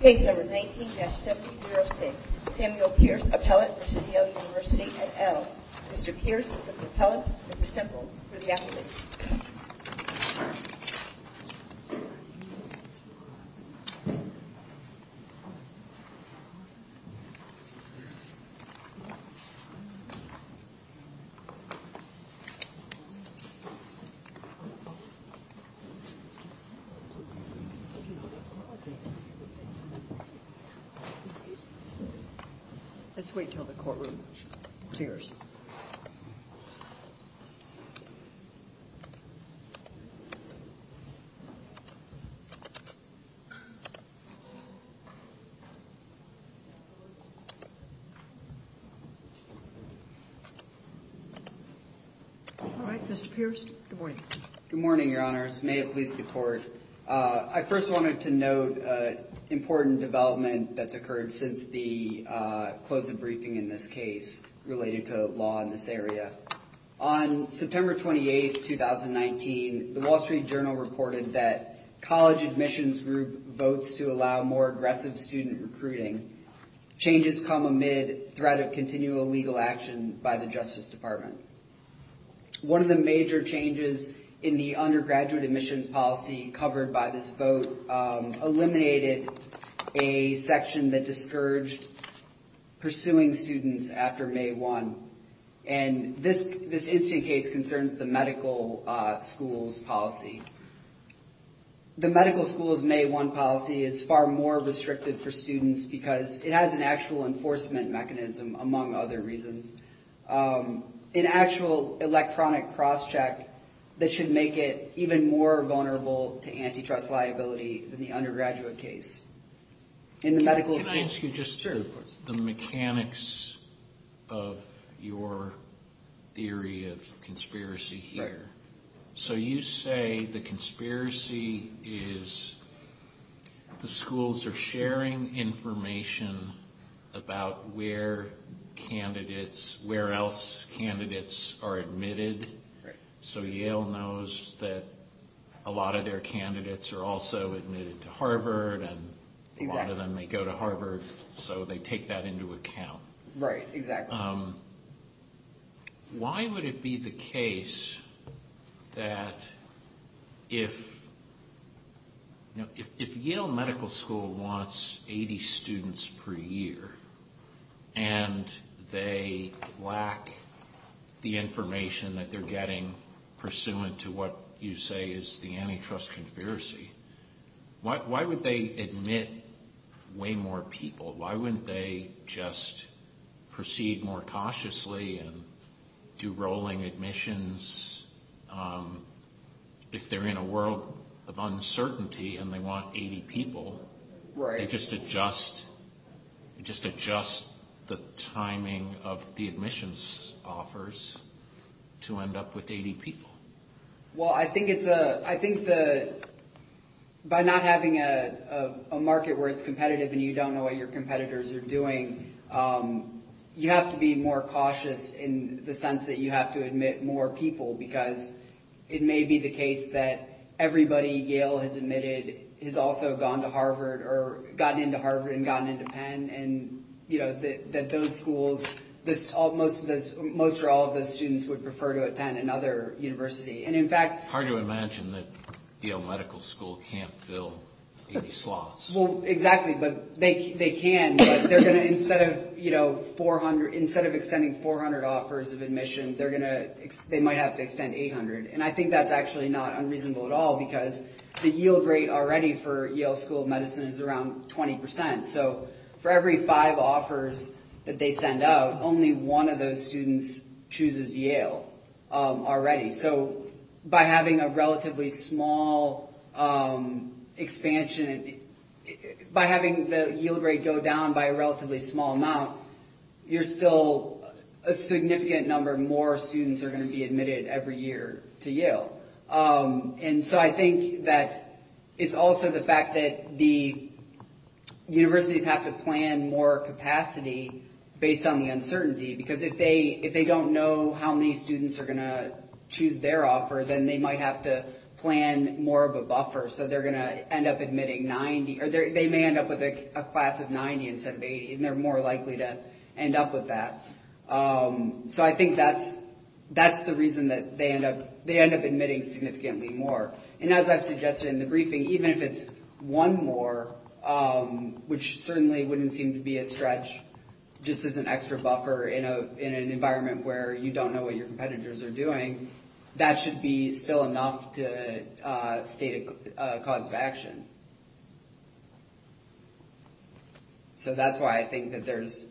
Case number 19-7006 Samuel Pierce, appellate v. Yale University at Elm Mr. Pierce is the appellate, Mrs. Temple is the applicant Let's wait until the courtroom clears. Alright, Mr. Pierce, good morning. Good morning, your honors. May it please the court. I first wanted to note important development that's occurred since the close of briefing in this case related to law in this area. On September 28th, 2019, the Wall Street Journal reported that college admissions group votes to allow more aggressive student recruiting. Changes come amid threat of continual legal action by the Justice Department. One of the major changes in the undergraduate admissions policy covered by this vote eliminated a section that discouraged pursuing students after May 1. And this this incident case concerns the medical school's policy. The medical school's May 1 policy is far more restricted for students because it has an actual enforcement mechanism, among other reasons. An actual electronic crosscheck that should make it even more vulnerable to antitrust liability than the undergraduate case. Can I ask you just the mechanics of your theory of conspiracy here? So you say the conspiracy is the schools are sharing information about where candidates, where else candidates are admitted. So Yale knows that a lot of their candidates are also admitted to Harvard and a lot of them may go to Harvard. So they take that into account. Right, exactly. Why would it be the case that if Yale Medical School wants 80 students per year, and they lack the information that they're getting pursuant to what you say is the antitrust conspiracy, why would they admit way more people? Why wouldn't they just proceed more cautiously and do rolling admissions if they're in a world of uncertainty and they want 80 people? They just adjust the timing of the admissions offers to end up with 80 people. Well, I think by not having a market where it's competitive and you don't know what your competitors are doing, you have to be more cautious in the sense that you have to admit more people, because it may be the case that everybody Yale has admitted has also gone to Harvard or gotten into Harvard and gotten into Penn. Most or all of those students would prefer to attend another university. It's hard to imagine that Yale Medical School can't fill 80 slots. Well, exactly, but they can. Instead of extending 400 offers of admission, they might have to extend 800. And I think that's actually not unreasonable at all, because the yield rate already for Yale School of Medicine is around 20%. So for every five offers that they send out, only one of those students chooses Yale already. So by having a relatively small expansion, by having the yield rate go down by a relatively small amount, you're still a significant number more students are going to be admitted every year to Yale. And so I think that it's also the fact that the universities have to plan more capacity based on the uncertainty, because if they don't know how many students are going to choose their offer, then they might have to plan more of a buffer. So they're going to end up admitting 90 or they may end up with a class of 90 instead of 80. And they're more likely to end up with that. So I think that's the reason that they end up admitting significantly more. And as I've suggested in the briefing, even if it's one more, which certainly wouldn't seem to be a stretch, just as an extra buffer in an environment where you don't know what your competitors are doing, that should be still enough to state a cause of action. So that's why I think that there's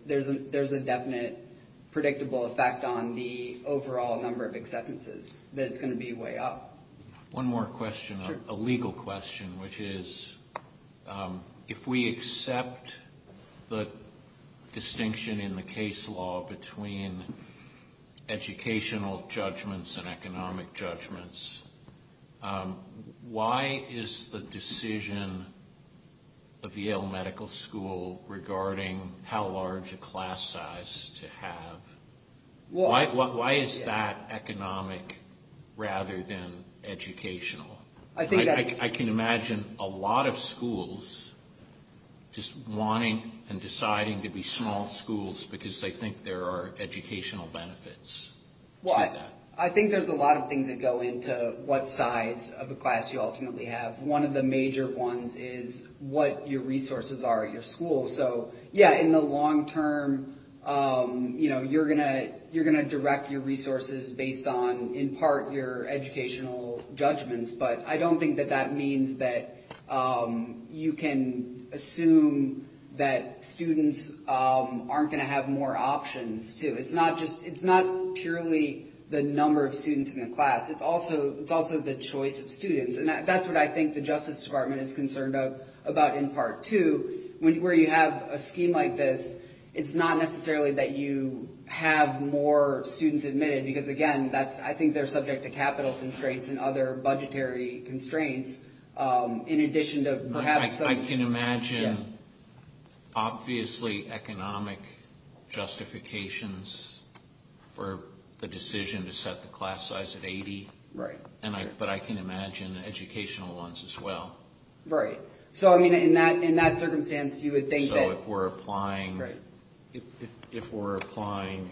a definite predictable effect on the overall number of acceptances, that it's going to be way up. One more question, a legal question, which is, if we accept the distinction in the case law between educational judgments and economic judgments, why is the decision of Yale Medical School regarding how large a class size to have, why is that economic rather than educational? I can imagine a lot of schools just wanting and deciding to be small schools because they think there are educational benefits to that. I think there's a lot of things that go into what size of a class you ultimately have. One of the major ones is what your resources are at your school. So, yeah, in the long term, you're going to direct your resources based on, in part, your educational judgments. But I don't think that that means that you can assume that students aren't going to have more options, too. It's not just, it's not purely the number of students in the class. It's also the choice of students. And that's what I think the Justice Department is concerned about in part, too, where you have a scheme like this, it's not necessarily that you have more students admitted, because, again, I think they're subject to capital constraints and other budgetary constraints. I can imagine, obviously, economic justifications for the decision to set the class size at 80. Right. But I can imagine educational ones as well. Right. So, I mean, in that circumstance, you would think that... So, if we're applying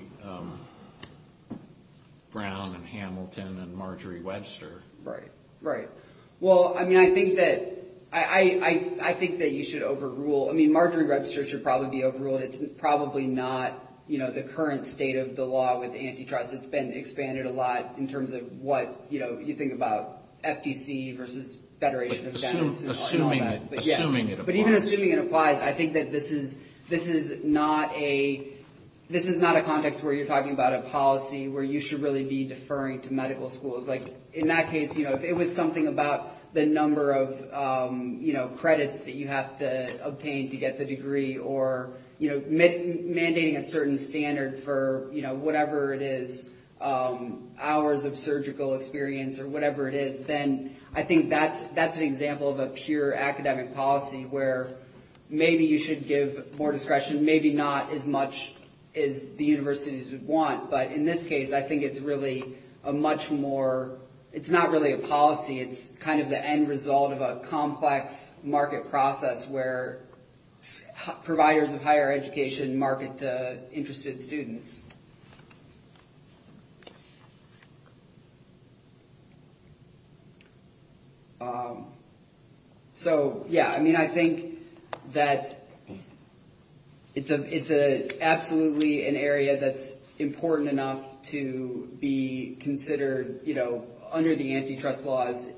Brown and Hamilton and Marjorie Webster... Right, right. Well, I mean, I think that you should overrule. I mean, Marjorie Webster should probably be overruled. It's probably not the current state of the law with antitrust. It's been expanded a lot in terms of what you think about FTC versus Federation of Dentists. Assuming it applies. But even assuming it applies, I think that this is not a context where you're talking about a policy where you should really be deferring to medical schools. In that case, if it was something about the number of credits that you have to obtain to get the degree or mandating a certain standard for whatever it is, hours of surgical experience or whatever it is, then I think that's an example of a pure academic policy where maybe you should give more discretion, maybe not as much as the universities would want. But in this case, I think it's really a much more... It's not really a policy. It's kind of the end result of a complex market process where providers of higher education market interested students. So, yeah, I mean, I think that it's absolutely an area that's important enough to be considered, you know, under the antitrust laws,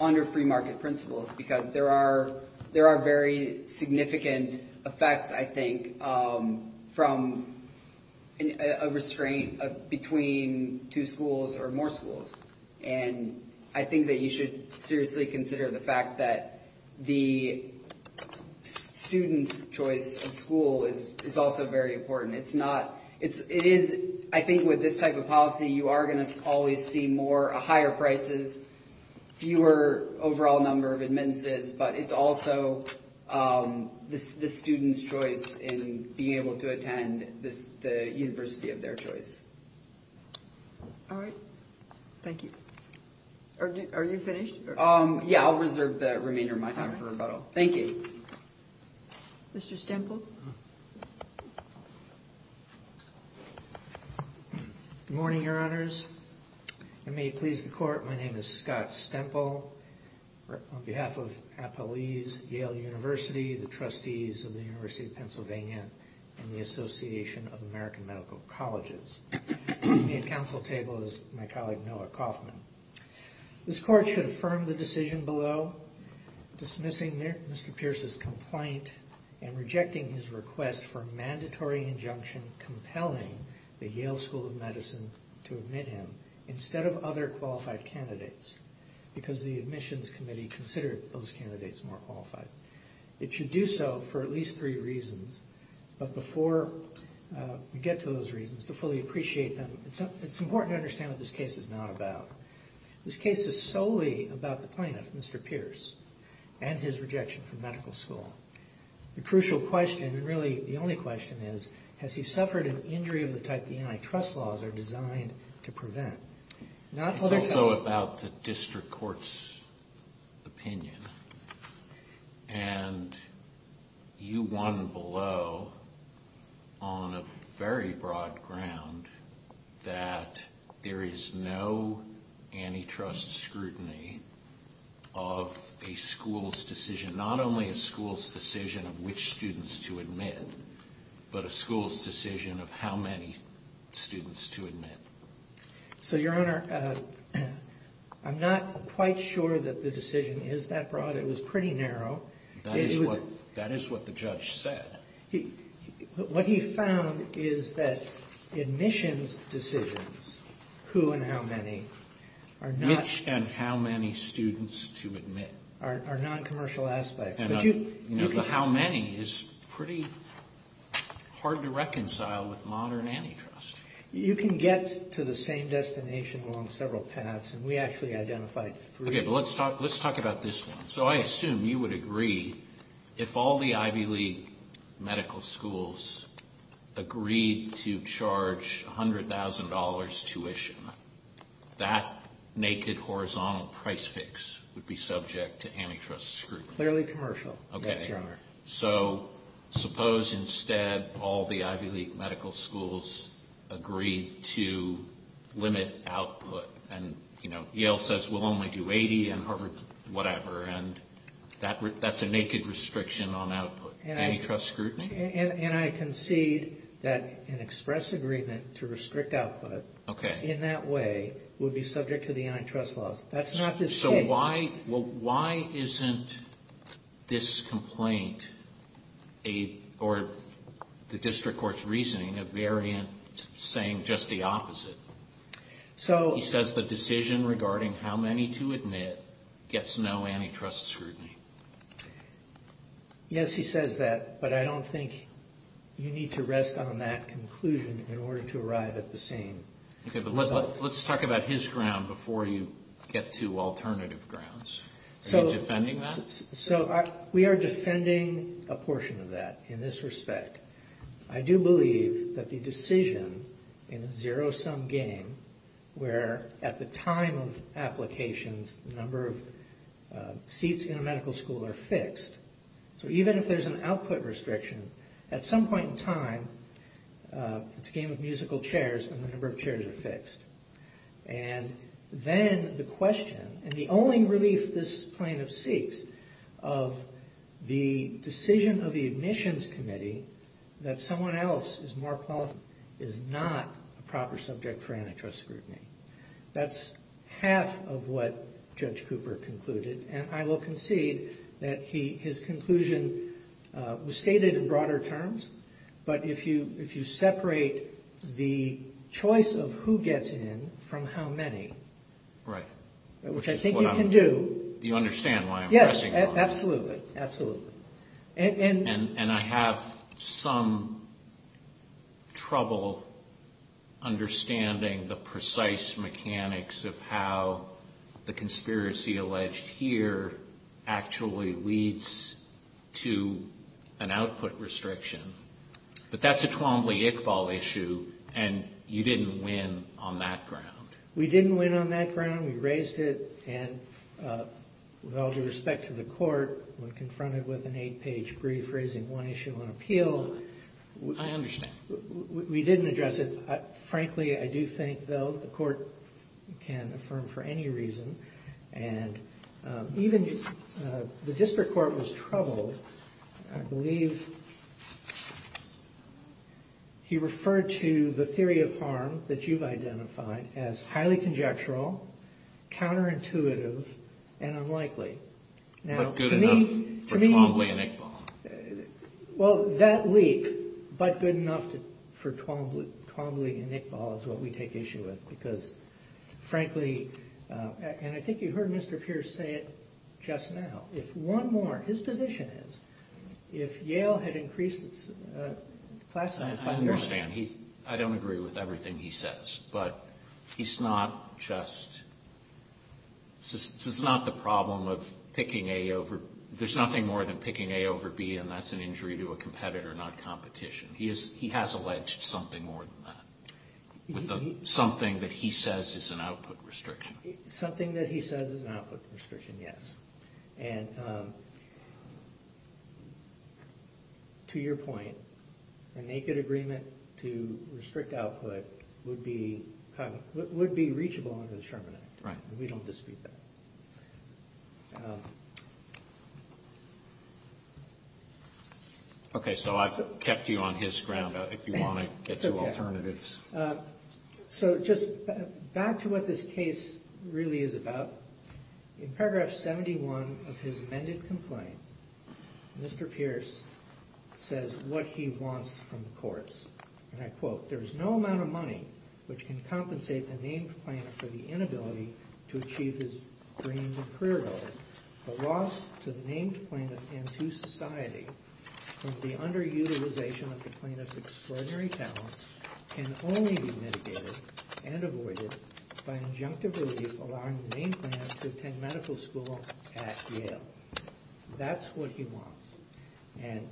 under free market principles. Because there are very significant effects, I think, from, you know, a restraint between two schools or more schools. And I think that you should seriously consider the fact that the student's choice of school is also very important. It's not... It is... I think with this type of policy, you are going to always see more higher prices, fewer overall number of admittances. But it's also the student's choice in being able to attend the university of their choice. All right. Thank you. Are you finished? Yeah, I'll reserve the remainder of my time for rebuttal. Thank you. Mr. Stemple. Good morning, Your Honors. And may it please the Court, my name is Scott Stemple. On behalf of appellees, Yale University, the trustees of the University of Pennsylvania, and the Association of American Medical Colleges. With me at council table is my colleague Noah Kaufman. This Court should affirm the decision below dismissing Mr. Pierce's complaint and rejecting his request for a mandatory injunction compelling the Yale School of Medicine to admit him because the admissions committee considered those candidates more qualified. It should do so for at least three reasons. But before we get to those reasons, to fully appreciate them, it's important to understand what this case is not about. This case is solely about the plaintiff, Mr. Pierce, and his rejection from medical school. The crucial question, and really the only question is, has he suffered an injury of the type the antitrust laws are designed to prevent? It's also about the district court's opinion. And you won below on a very broad ground that there is no antitrust scrutiny of a school's decision, not only a school's decision of which students to admit, but a school's decision of how many students to admit. So, Your Honor, I'm not quite sure that the decision is that broad. It was pretty narrow. That is what the judge said. What he found is that admissions decisions, who and how many, are not... Which and how many students to admit. ...are noncommercial aspects. How many is pretty hard to reconcile with modern antitrust. You can get to the same destination along several paths, and we actually identified three. Okay, but let's talk about this one. So I assume you would agree if all the Ivy League medical schools agreed to charge $100,000 tuition, that naked horizontal price fix would be subject to antitrust scrutiny. Clearly commercial, yes, Your Honor. So suppose instead all the Ivy League medical schools agreed to limit output, and Yale says we'll only do $80,000 and Harvard whatever, and that's a naked restriction on output. Antitrust scrutiny? And I concede that an express agreement to restrict output in that way would be subject to the antitrust laws. That's not the case. Okay, so why isn't this complaint, or the district court's reasoning, a variant saying just the opposite? He says the decision regarding how many to admit gets no antitrust scrutiny. Yes, he says that, but I don't think you need to rest on that conclusion in order to arrive at the same result. Okay, but let's talk about his ground before you get to alternative grounds. Are you defending that? So we are defending a portion of that in this respect. I do believe that the decision in a zero-sum game where at the time of applications, the number of seats in a medical school are fixed, so even if there's an output restriction, at some point in time, it's a game of musical chairs and the number of chairs are fixed. And then the question, and the only relief this plaintiff seeks, of the decision of the admissions committee that someone else is not a proper subject for antitrust scrutiny. That's half of what Judge Cooper concluded, and I will concede that his conclusion was stated in broader terms, but if you separate the choice of who gets in from how many, which I think you can do. You understand why I'm pressing on this. Yes, absolutely, absolutely. And I have some trouble understanding the precise mechanics of how the conspiracy alleged here actually leads to an output restriction. But that's a Twombly-Iqbal issue, and you didn't win on that ground. We didn't win on that ground. We raised it, and with all due respect to the court, when confronted with an eight-page brief raising one issue on appeal. I understand. We didn't address it. Frankly, I do think, though, the court can affirm for any reason, and even the district court was troubled. I believe he referred to the theory of harm that you've identified as highly conjectural, counterintuitive, and unlikely. But good enough for Twombly and Iqbal. Well, that leak, but good enough for Twombly and Iqbal is what we take issue with, because frankly, and I think you heard Mr. Pierce say it just now. If one more, his position is if Yale had increased its class size by more. I understand. I don't agree with everything he says, but he's not just, this is not the problem of picking A over, there's nothing more than picking A over B, and that's an injury to a competitor, not competition. He has alleged something more than that, something that he says is an output restriction. Something that he says is an output restriction, yes. And to your point, a naked agreement to restrict output would be reachable under the Sherman Act. We don't dispute that. Okay, so I've kept you on his ground. If you want to get to alternatives. So just back to what this case really is about. In paragraph 71 of his amended complaint, Mr. Pierce says what he wants from the courts, and I quote, there is no amount of money which can compensate the named plaintiff for the inability to achieve his dreams and career goals. The loss to the named plaintiff and to society from the underutilization of the plaintiff's extraordinary talents can only be mitigated and avoided by an injunctive relief allowing the named plaintiff to attend medical school at Yale. That's what he wants. And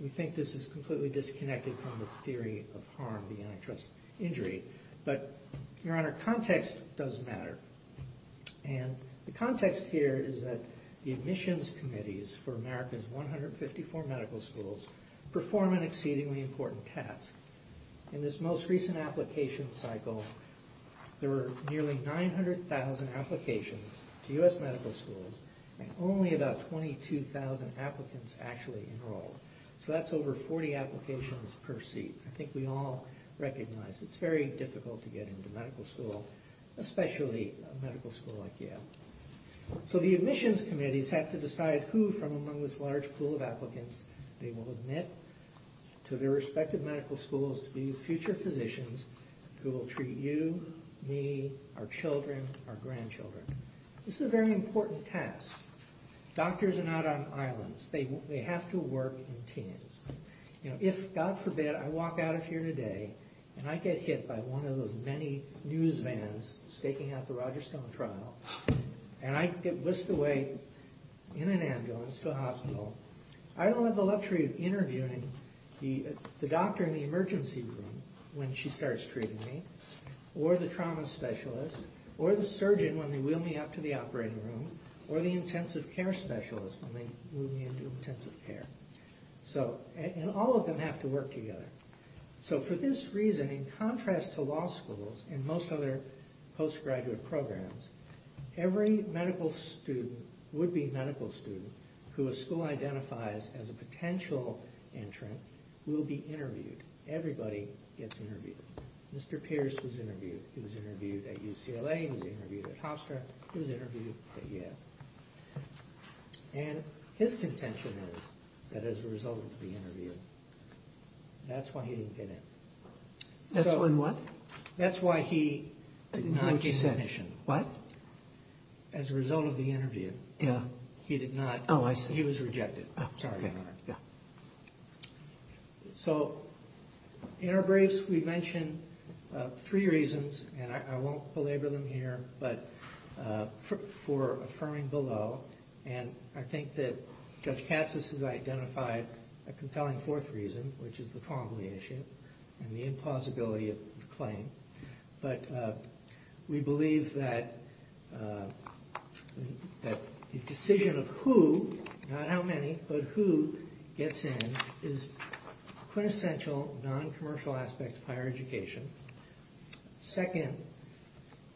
we think this is completely disconnected from the theory of harm, the antitrust injury. But, your honor, context does matter. And the context here is that the admissions committees for America's 154 medical schools perform an exceedingly important task. In this most recent application cycle, there were nearly 900,000 applications to U.S. medical schools, and only about 22,000 applicants actually enrolled. So that's over 40 applications per seat. I think we all recognize it's very difficult to get into medical school, especially a medical school like Yale. So the admissions committees have to decide who from among this large pool of applicants they will admit to their respective medical schools to be future physicians who will treat you, me, our children, our grandchildren. This is a very important task. Doctors are not on islands. They have to work in teams. If, God forbid, I walk out of here today and I get hit by one of those many news vans staking out the Roger Stone trial, and I get whisked away in an ambulance to a hospital, I don't have the luxury of interviewing the doctor in the emergency room when she starts treating me, or the trauma specialist, or the surgeon when they wheel me up to the operating room, or the intensive care specialist when they move me into intensive care. And all of them have to work together. So for this reason, in contrast to law schools and most other postgraduate programs, every medical student, would-be medical student, who a school identifies as a potential entrant will be interviewed. Everybody gets interviewed. Mr. Pierce was interviewed. He was interviewed at UCLA. He was interviewed at Hofstra. He was interviewed at Yale. And his contention is that as a result of the interview, that's why he didn't get in. That's when what? That's why he did not get admission. What? As a result of the interview. Yeah. He did not- Oh, I see. He was rejected. Oh, okay. Sorry about that. Yeah. So in our briefs, we mention three reasons, and I won't belabor them here, but for affirming below. And I think that Judge Katsas has identified a compelling fourth reason, which is the promulgation and the implausibility of the claim. But we believe that the decision of who, not how many, but who gets in is a quintessential non-commercial aspect of higher education. Second,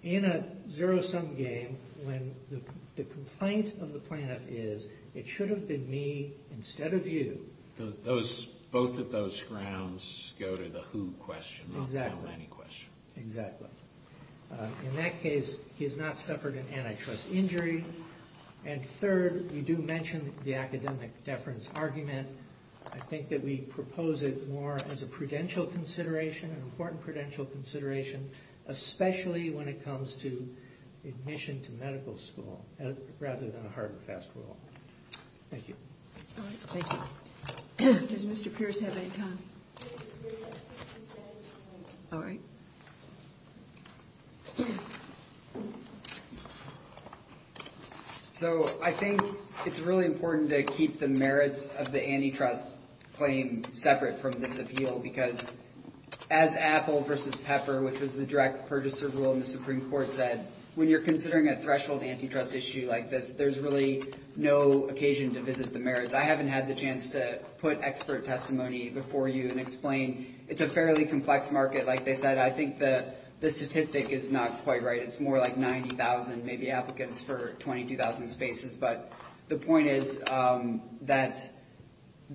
in a zero-sum game, when the complaint of the plaintiff is, it should have been me instead of you- Both of those grounds go to the who question, not the how many question. Exactly. In that case, he has not suffered an antitrust injury. And third, you do mention the academic deference argument. I think that we propose it more as a prudential consideration, an important prudential consideration, especially when it comes to admission to medical school, rather than a hard and fast rule. Thank you. All right. Thank you. Does Mr. Pierce have any time? We have a few minutes left. All right. So I think it's really important to keep the merits of the antitrust claim separate from this appeal, because as Apple versus Pepper, which was the direct purchaser rule in the Supreme Court said, when you're considering a threshold antitrust issue like this, there's really no occasion to visit the merits. I haven't had the chance to put expert testimony before you and explain. It's a fairly complex market. Like they said, I think the statistic is not quite right. It's more like 90,000 maybe applicants for 22,000 spaces. But the point is that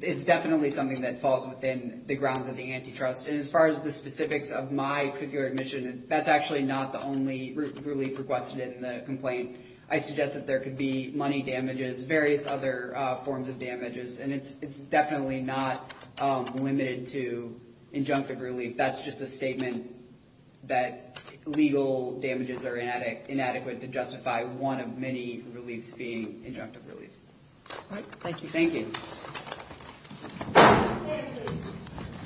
it's definitely something that falls within the grounds of the antitrust. And as far as the specifics of my particular admission, that's actually not the only relief requested in the complaint. I suggest that there could be money damages, various other forms of damages. And it's definitely not limited to injunctive relief. That's just a statement that legal damages are inadequate to justify one of many reliefs being injunctive relief. All right. Thank you. Thank you.